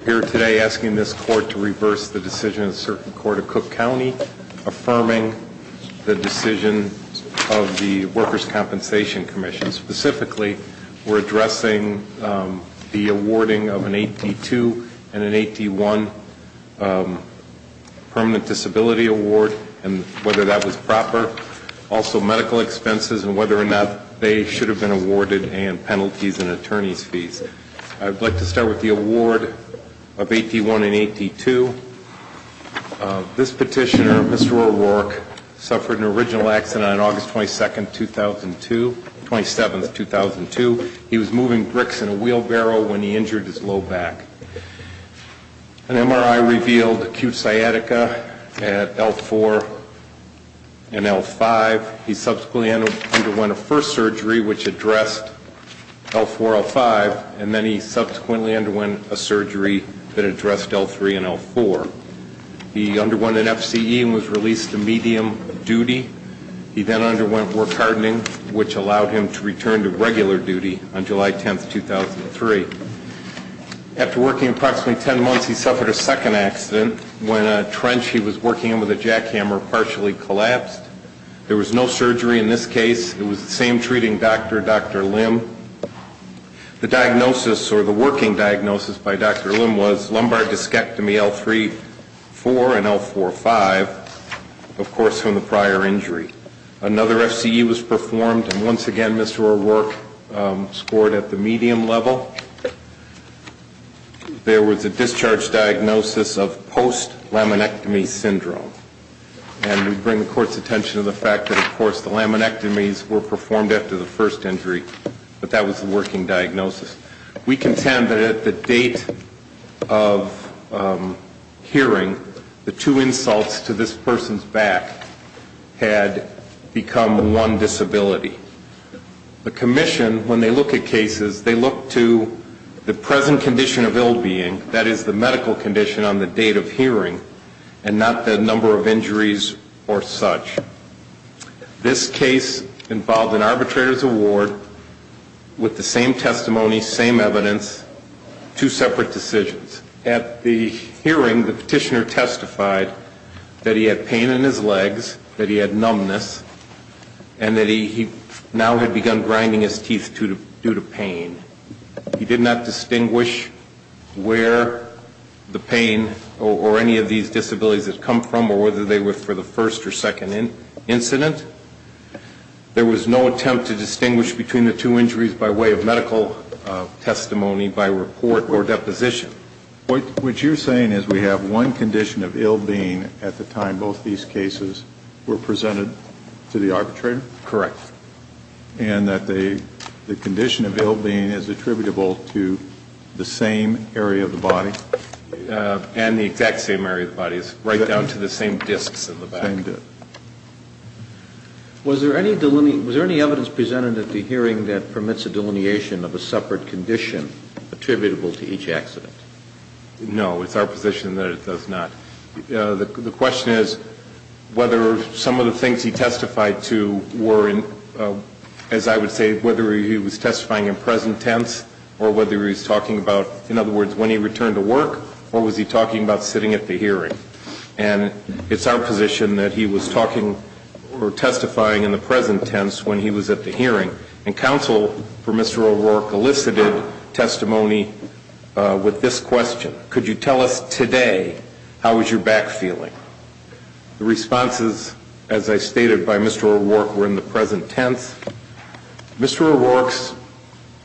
We're here today asking this court to reverse the decision of a certain court of Cook County, affirming the decision of the Workers' Compensation Commission. Specifically, we're addressing the awarding of an 8D2 and an 8D1 permanent disability award and whether that was proper. Also medical expenses and whether or not they should have been awarded and penalties and of 8D1 and 8D2. This petitioner, Mr. O'Rourke, suffered an original accident on August 22, 2002, 27, 2002. He was moving bricks in a wheelbarrow when he injured his low back. An MRI revealed acute sciatica at L4 and L5. He subsequently underwent a first surgery which addressed L3 and L4. He underwent an FCE and was released to medium duty. He then underwent work hardening which allowed him to return to regular duty on July 10, 2003. After working approximately 10 months, he suffered a second accident when a trench he was working in with a jackhammer partially collapsed. There was no surgery in this case. It was the same treating doctor, Dr. Lim. The diagnosis or the working diagnosis by Dr. Lim was lumbar discectomy L3-4 and L4-5, of course, from the prior injury. Another FCE was performed and once again, Mr. O'Rourke scored at the medium level. There was a discharge diagnosis of post-laminectomy syndrome. And we bring the court's attention to the fact that, of course, the laminectomies were performed after the first injury, but that was the working diagnosis. We contend that at the date of hearing, the two insults to this person's back had become one disability. The commission, when they look at cases, they look to the present condition of ill-being, that is the medical condition on the date of hearing, and not the number of injuries or such. This case involved an arbitrator's award with the same testimony, same evidence, two separate decisions. At the hearing, the petitioner testified that he had pain in his legs, that he had numbness, and that he now had begun grinding his teeth due to pain. He did not distinguish between the two injuries by way of medical testimony, by report, or deposition. What you're saying is we have one condition of ill-being at the time both these cases were presented to the arbitrator? Correct. And that the condition of ill-being is attributable to the same area of the body? And the exact same area of the body. Was there any evidence presented at the hearing that permits a delineation of a separate condition attributable to each accident? No. It's our position that it does not. The question is whether some of the things he testified to were, as I would say, whether he was testifying in present tense, or whether he was talking about, in other words, when he returned to work, or was he talking about sitting at the hearing? And it's our position that he was talking or testifying in the present tense when he was at the hearing, and counsel for Mr. O'Rourke elicited testimony with this question. Could you tell us today how was your back feeling? The responses, as I stated, by Mr. O'Rourke were in the present tense. Mr. O'Rourke's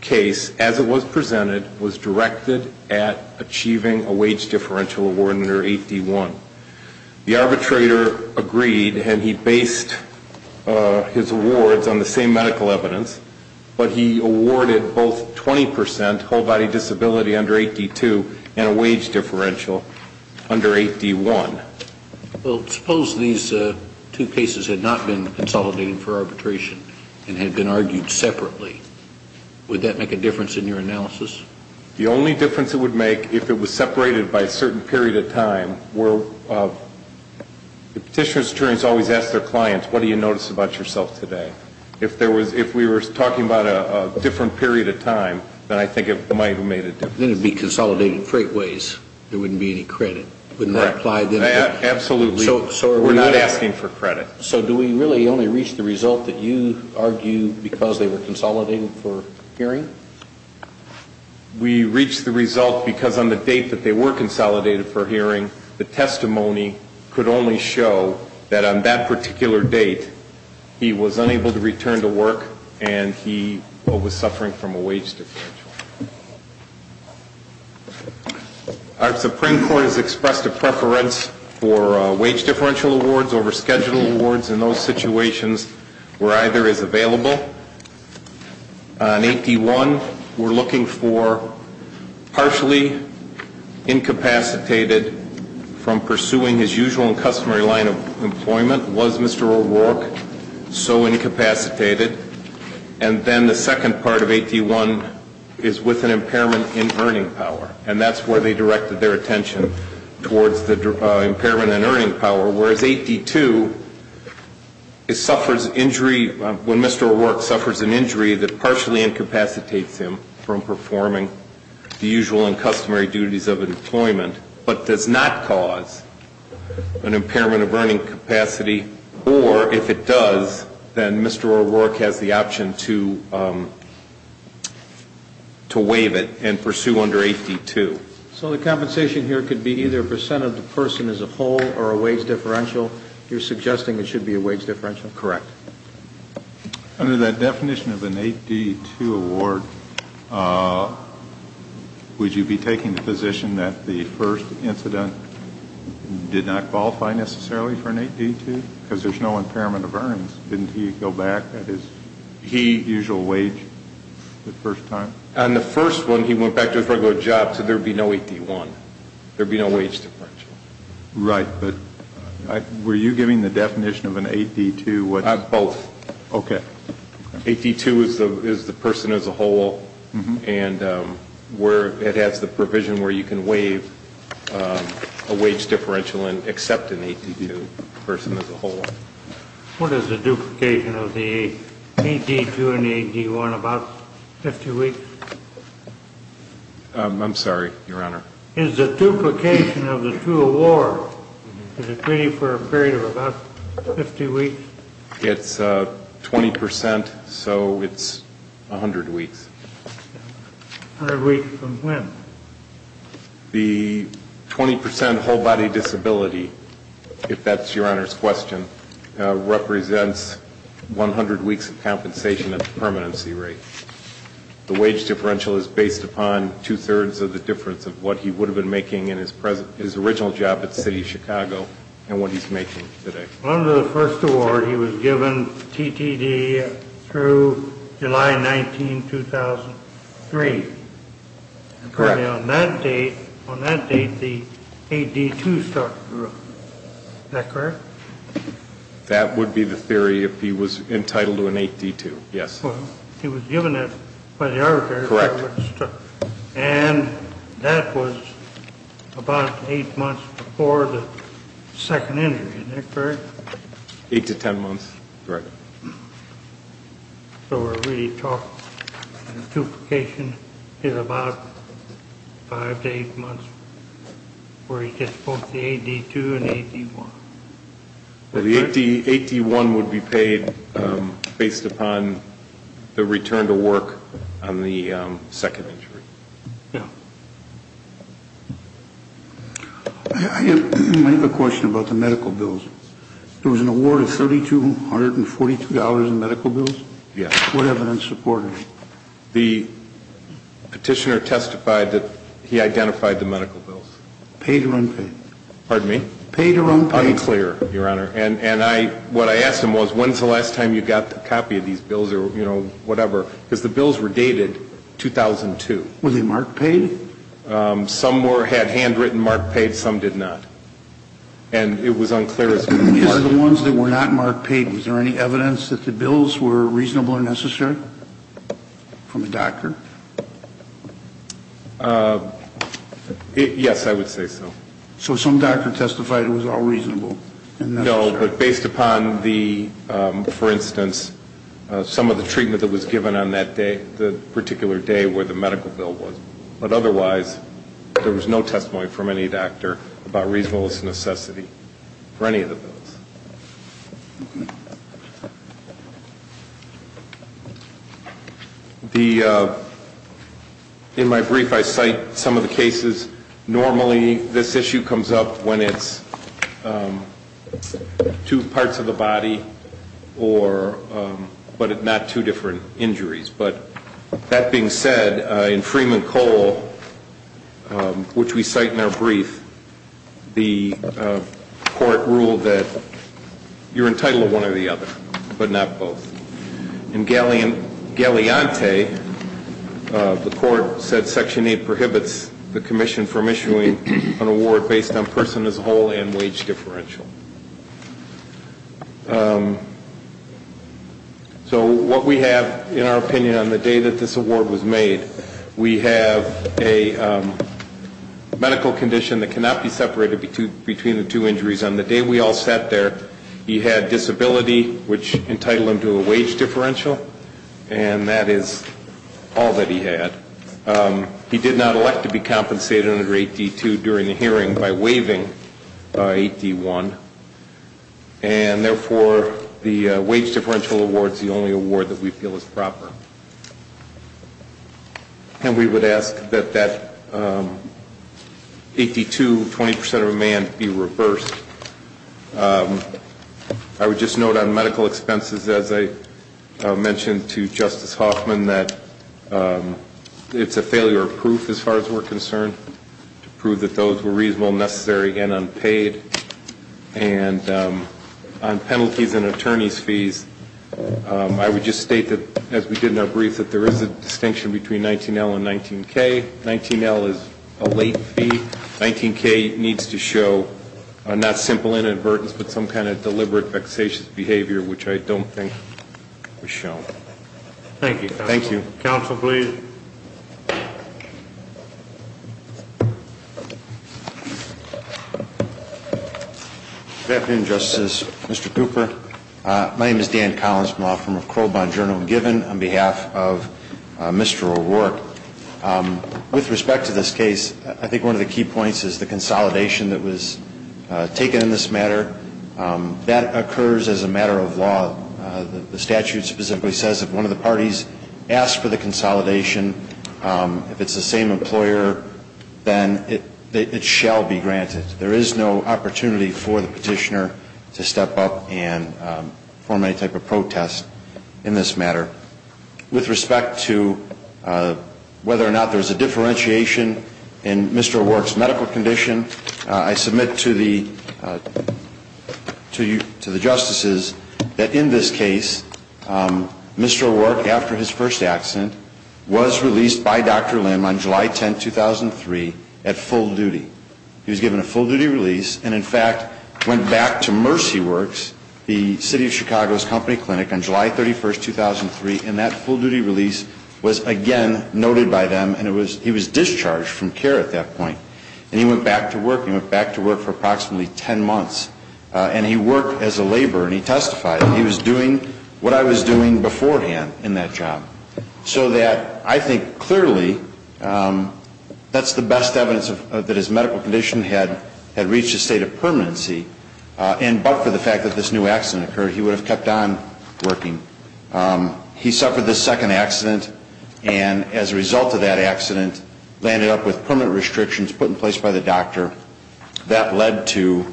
case, as it was presented, was directed at achieving a wage differential award under 8D1. The arbitrator agreed, and he based his awards on the same medical evidence, but he awarded both 20% whole body disability under 8D2 and a wage differential under 8D1. Well, suppose these two cases had not been consolidated for arbitration and had been argued separately. Would that make a difference in your analysis? The only difference it would make if it was separated by a certain period of time were the petitioner's attorneys always ask their clients, what do you notice about yourself today? If we were talking about a different period of time, then I think it might have made a difference. Then it would be consolidated freightways. There wouldn't be any credit. Absolutely. We're not asking for credit. So do we really only reach the result that you argue because they were consolidated for hearing? We reach the result because on the date that they were consolidated for hearing, the testimony could only show that on that particular date, he was unable to return to work and he was suffering from a wage differential. Our Supreme Court has expressed a preference for wage differential awards over schedule awards, and those situations were either as available on 8D1 we're looking for partially incapacitated from pursuing his usual and customary line of employment. Was Mr. O'Rourke so incapacitated? And then the second part of 8D1 is with an impairment in earning power. And that's where they directed their attention towards the impairment in earning power. Whereas 8D2, when Mr. O'Rourke suffers an injury that partially incapacitates him from performing the usual and customary duties of employment, but does not cause an impairment of earning capacity, or if it does, then Mr. O'Rourke has the option to waive it and pursue under 8D2. So the compensation here could be either a percent of the person as a whole or a wage differential. You're suggesting it should be a wage differential? Correct. Under that definition of an 8D2 award, would you be taking the position that the first incident did not qualify necessarily for an 8D2? Because there's no impairment of earnings. Didn't he go back at his usual wage the first time? On the first one, he went back to his regular job, so there would be no 8D1. There would be no wage differential. Right, but were you giving the definition of an 8D2? Both. Okay. 8D2 is the person as a whole, and it has the provision where you can waive a wage differential and accept an 8D2 person as a whole. What is the duplication of the 8D2 and the 8D1? About 50 weeks? I'm sorry, Your Honor. Is the duplication of the 2 award, is it waiting for a period of about 50 weeks? It's 20%, so it's 100 weeks. 100 weeks from when? The 20% whole body disability, if that's Your Honor's question, represents 100 weeks of compensation at the permanency rate. The wage differential is based upon two-thirds of the difference of what he would have been making in his original job at the City of Chicago and what he's making today. Under the first award, he was given TTD through July 19, 2003. Correct. On that date, the 8D2 started to run. Is that correct? That would be the theory if he was entitled to an 8D2, yes. Well, he was given it by the arbitrator. Correct. And that was about 8 months before the second injury. Is that correct? 8 to 10 months. Correct. So we're really talking, the duplication is about 5 to 8 months where he gets both the 8D2 and the 8D1. Well, the 8D1 would be paid based upon the return to work on the second injury. Yes. I have a question about the medical bills. There was an award of $3,242 in medical bills? Yes. What evidence supported it? The petitioner testified that he identified the medical bills. Paid or unpaid? Pardon me? Paid or unpaid? Unclear, Your Honor. And what I asked him was, when's the last time you got a copy of these bills or whatever? Because the bills were dated 2002. Were they marked paid? Some had handwritten marked paid, some did not. And it was unclear as to why. Are the ones that were not marked paid, is there any evidence that the bills were reasonable or necessary from a doctor? Yes, I would say so. So some doctor testified it was all reasonable? No, but based upon the, for instance, some of the treatment that was given on that day, the particular day where the medical bill was. But otherwise, there was no testimony from any doctor about reasonableness or necessity for any of the bills. The, in my brief, I cite some of the cases. Normally, this issue comes up when it's two parts of the body or, but not two different injuries. But that being said, in Freeman Cole, which we cite in our brief, the court ruled that you're entitled to one or the other, but not both. In Galeante, the court said Section 8 prohibits the commission from issuing an award based on person as a whole and wage differential. So what we have, in our opinion, on the day that this award was made, we have a medical condition that cannot be separated between the two injuries. On the day we all sat there, he had disability, which entitled him to a wage differential, and that is all that he had. He did not elect to be compensated under 8D2 during the hearing by waiving 8D1. And therefore, the wage differential award is the only award that we feel is proper. And we would ask that that 8D2, 20% of a man, be reversed. I would just note on medical expenses, as I mentioned to Justice Hoffman, that it's a failure of proof, as far as we're concerned, to prove that those were reasonable, necessary, and unpaid. And on penalties and attorney's fees, I would just state that, as we did in our brief, that there is a distinction between 19L and 19K. 19L is a late fee. 19K needs to show, not simple inadvertence, but some kind of deliberate, vexatious behavior, which I don't think was shown. Thank you, counsel. Thank you. Counsel, please. Good afternoon, Justice. Mr. Cooper, my name is Dan Collins. I'm a law firm of Crow Bond Journal and Given on behalf of Mr. O'Rourke. With respect to this case, I think one of the key points is the consolidation that was taken in this matter. That occurs as a matter of law. The statute specifically says if one of the parties asks for the consolidation, if it's the same employer, then it shall be granted. There is no opportunity for the petitioner to step up and form any type of protest in this matter. With respect to whether or not there's a differentiation in Mr. O'Rourke's medical condition, I submit to the justices that in this case, Mr. O'Rourke, after his first accident, was released by Dr. Lim on July 10, 2003, at full duty. He was given a full-duty release and, in fact, went back to Mercy Works, the City of Chicago's company clinic, on July 31, 2003, and that full-duty release was again noted by them and he was discharged from care at that point. And he went back to work. He went back to work for approximately 10 months. And he worked as a laborer. And he testified that he was doing what I was doing beforehand in that job. So that, I think clearly, that's the best evidence that his medical condition had reached a state of permanency. But for the fact that this new accident occurred, he would have kept on working. He suffered this second accident and as a result of that accident, landed up with permanent restrictions put in place by the doctor. That led to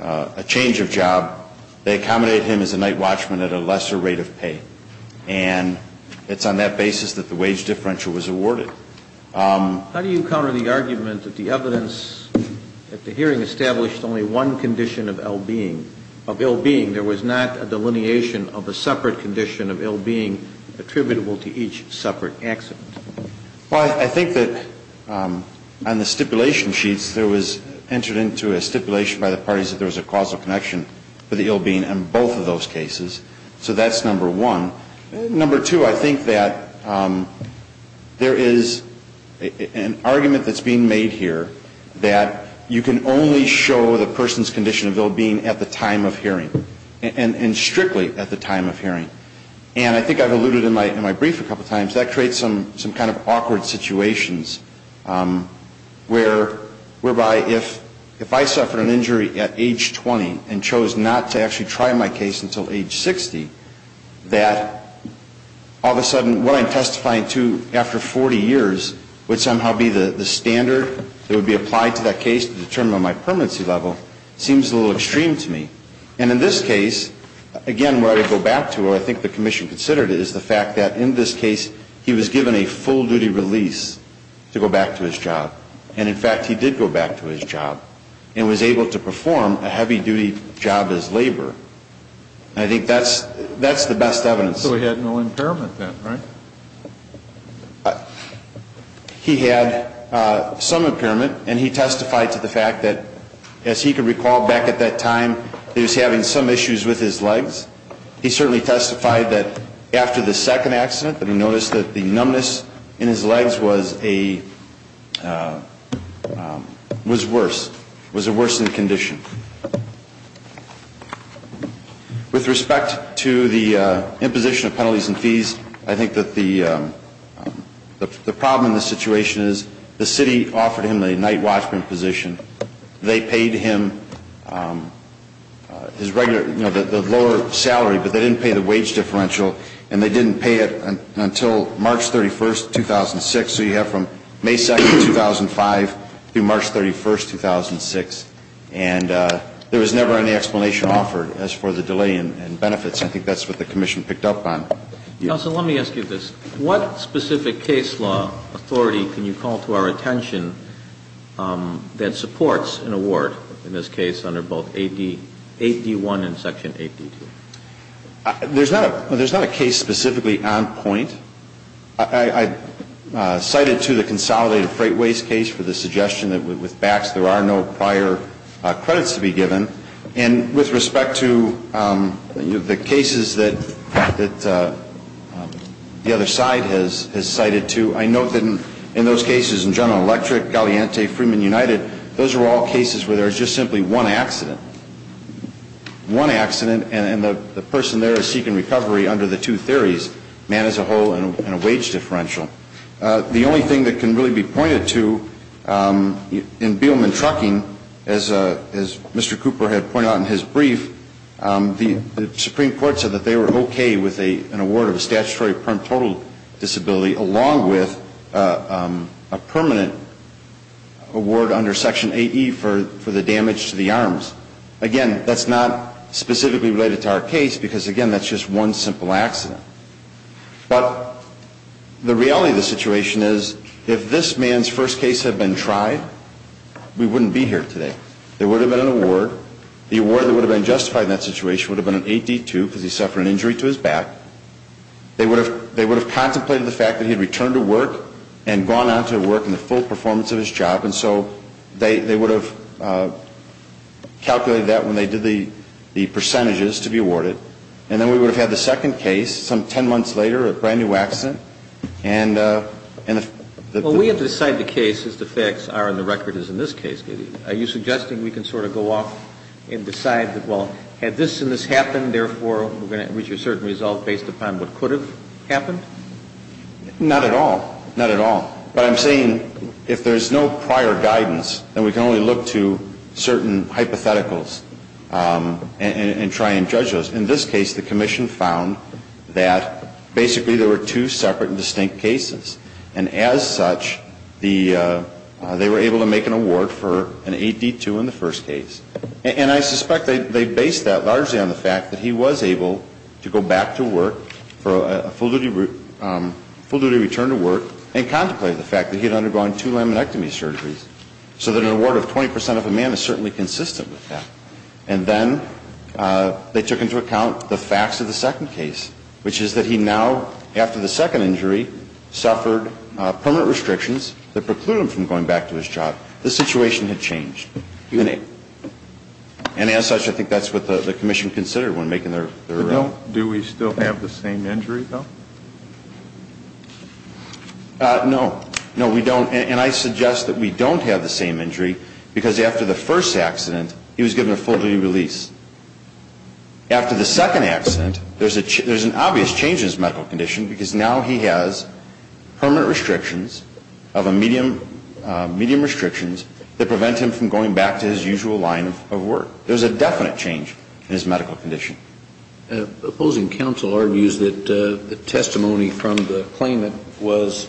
a change of job. They accommodated him as a night watchman at a lesser rate of pay. And it's on that basis that the wage differential was awarded. How do you counter the argument that the evidence at the hearing established only one condition of ill-being? There was not a delineation of a separate condition of ill-being attributable to each separate accident? Well, I think that on the stipulation sheets, there was entered into a stipulation by the parties that there was a causal connection for the ill-being in both of those cases. So that's number one. Number two, I think that there is an argument that's being made here that you can only show the person's condition of ill-being at the time of hearing and strictly at the time of hearing. And I think I've alluded in my brief a couple of times, that creates some kind of awkward situations whereby if I suffered an injury at age 20 and chose not to actually try my case until age 60, that all of a sudden what I'm testifying to after 40 years would somehow be the standard that would be applied to that case to determine my permanency level seems a little extreme to me. And in this case, again, where I would go back to, or I think the Commission considered it, is the fact that in this case he was given a full-duty release to go back to his job. And in fact, he did go back to his job and was able to perform a heavy-duty job as labor. And I think that's the best evidence. So he had no impairment then, right? He had some impairment and he testified to the fact that as he could recall back at that time he was having some issues with his legs. He certainly testified that after the second accident that he noticed that the numbness in his legs was worse. It was a worsened condition. With respect to the imposition of penalties and fees, I think that the problem in this situation is the City offered him a night watchman position. They paid him his regular, you know, the lower salary, but they didn't pay the wage differential and they didn't pay it until March 31, 2006. So you have from May 2, 2005 through March 31, 2006. And there was never any explanation offered as for the delay in benefits. I think that's what the Commission picked up on. Counsel, let me ask you this. What specific case law authority can you call to our attention that supports an award in this case under both 8D1 and Section 8D2? There's not a case specifically on point. I cited to the consolidated freight waste case for the suggestion that with BACs there are no prior credits to be given. And with respect to the cases that the other side has cited to, I note that in those cases in General Electric, Galiante, Freeman United, those are all cases where there is just simply one accident. One accident, and the person there is seeking recovery under the two theories, man as a whole and a wage differential. The only thing that can really be pointed to in Beelman Trucking as Mr. Cooper had pointed out in his brief, the Supreme Court said that they were okay with an award of a statutory total disability along with a permanent award under Section 8E for the damage to the arms. Again, that's not specifically related to our case because again, that's just one simple accident. But the reality of the situation is if this man's first case had been tried, we wouldn't be here today. There would have been an award. The award that would have been justified in that situation would have been an 8D2 because he suffered an injury to his back. They would have contemplated the fact that he had returned to work and gone on to work in the full performance of his job and so they would have calculated that when they did the percentages to be awarded and then we would have had the second case some ten months later, a brand new accident and Well, we have to decide the case as the facts are and the record is in this case. Are you suggesting we can sort of go off and decide that, well, had this and this happened, therefore, we're going to reach a certain result based upon what could have happened? Not at all. Not at all. But I'm saying if there's no prior guidance then we can only look to certain hypotheticals and try and judge those. In this case, the Commission found that basically there were two separate and distinct cases and as such they were able to make an award for an 8D2 in the first case and I suspect they based that largely on the fact that he was able to go back to work for a full duty return to work and contemplated the fact that he had undergone two laminectomy surgeries so that an award of 20% of a man is certainly consistent with that and then they took into account the facts of the second case which is that he now after the second injury suffered permanent restrictions that precluded him from going back to his job. The situation had changed. And as such I think that's what the Commission considered when making their arraignment. Do we still have the same injury though? No. No, we don't and I suggest that we don't have the same injury because after the first accident he was given a full duty release. After the second accident there's an obvious change in his medical condition because now he has permanent restrictions of a medium restrictions that prevent him from going back to his usual line of work. There's a definite change in his medical condition. Opposing counsel argues that the testimony from the claimant was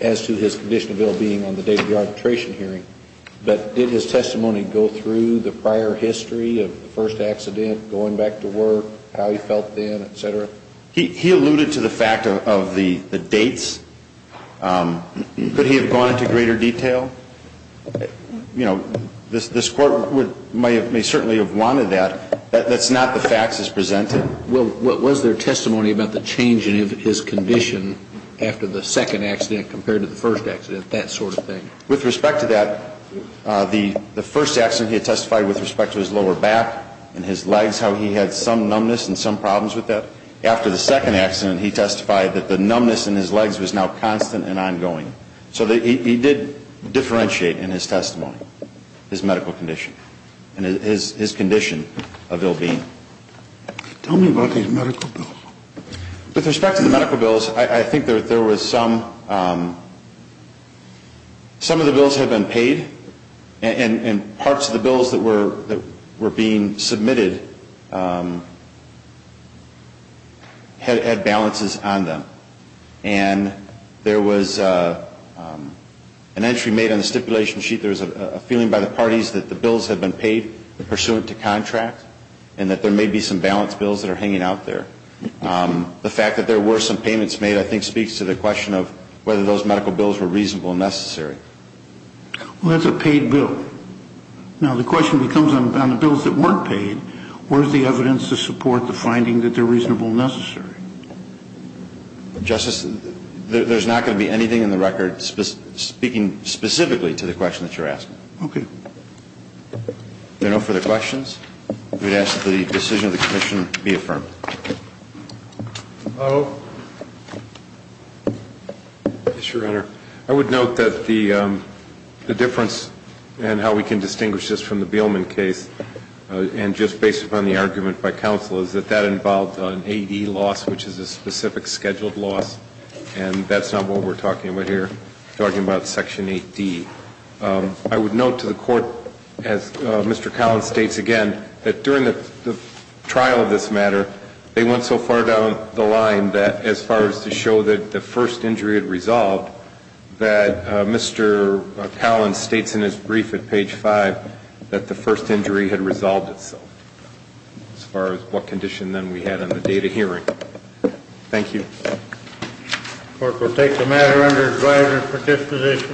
as to his condition of ill-being on the day of the arbitration hearing but did his testimony go through the prior history of the first accident, going back to work how he felt then, etc.? He alluded to the fact of the dates could he have gone into greater detail? This Court may certainly have wanted that that's not the facts as presented. Was there testimony about the change in his condition after the second accident compared to the first accident that sort of thing? With respect to that the first accident he testified with respect to his lower back and his legs, how he had some numbness and some problems with that. After the second accident he testified that the numbness in his legs was now constant and ongoing. So he did differentiate in his testimony his medical condition his condition of ill-being. Tell me about his medical bills. With respect to the medical bills I think there was some some of the bills had been paid and parts of the bills that were being submitted had balances on them and there was an entry made on the stipulation sheet there was a feeling by the parties that the bills had been paid pursuant to contract and that there may be some balance bills that are hanging out there. The fact that there were some payments made I think speaks to the question of whether those medical bills were reasonable and necessary. Well that's a paid bill. Now the question becomes on the bills that weren't paid where's the evidence to support the finding that they're reasonable and necessary? Justice there's not going to be anything in the record speaking specifically to the question that you're asking. If there are no further questions we'd ask that the decision of the Commission be affirmed. Hello Yes, Your Honor I would note that the difference and how we can distinguish this from the Beelman case and just based upon the argument by counsel is that that involved an AD loss which is a specific scheduled loss and that's not what we're talking about here we're talking about Section 8D I would note to the Court as Mr. Collins states again that during the trial of this matter they went so far down the line as far as to show that the first injury had resolved that Mr. Collins states in his brief at page 5 that the first injury had resolved itself as far as what condition then we had on the date of hearing. Thank you. The Court will take the matter under advisory participation.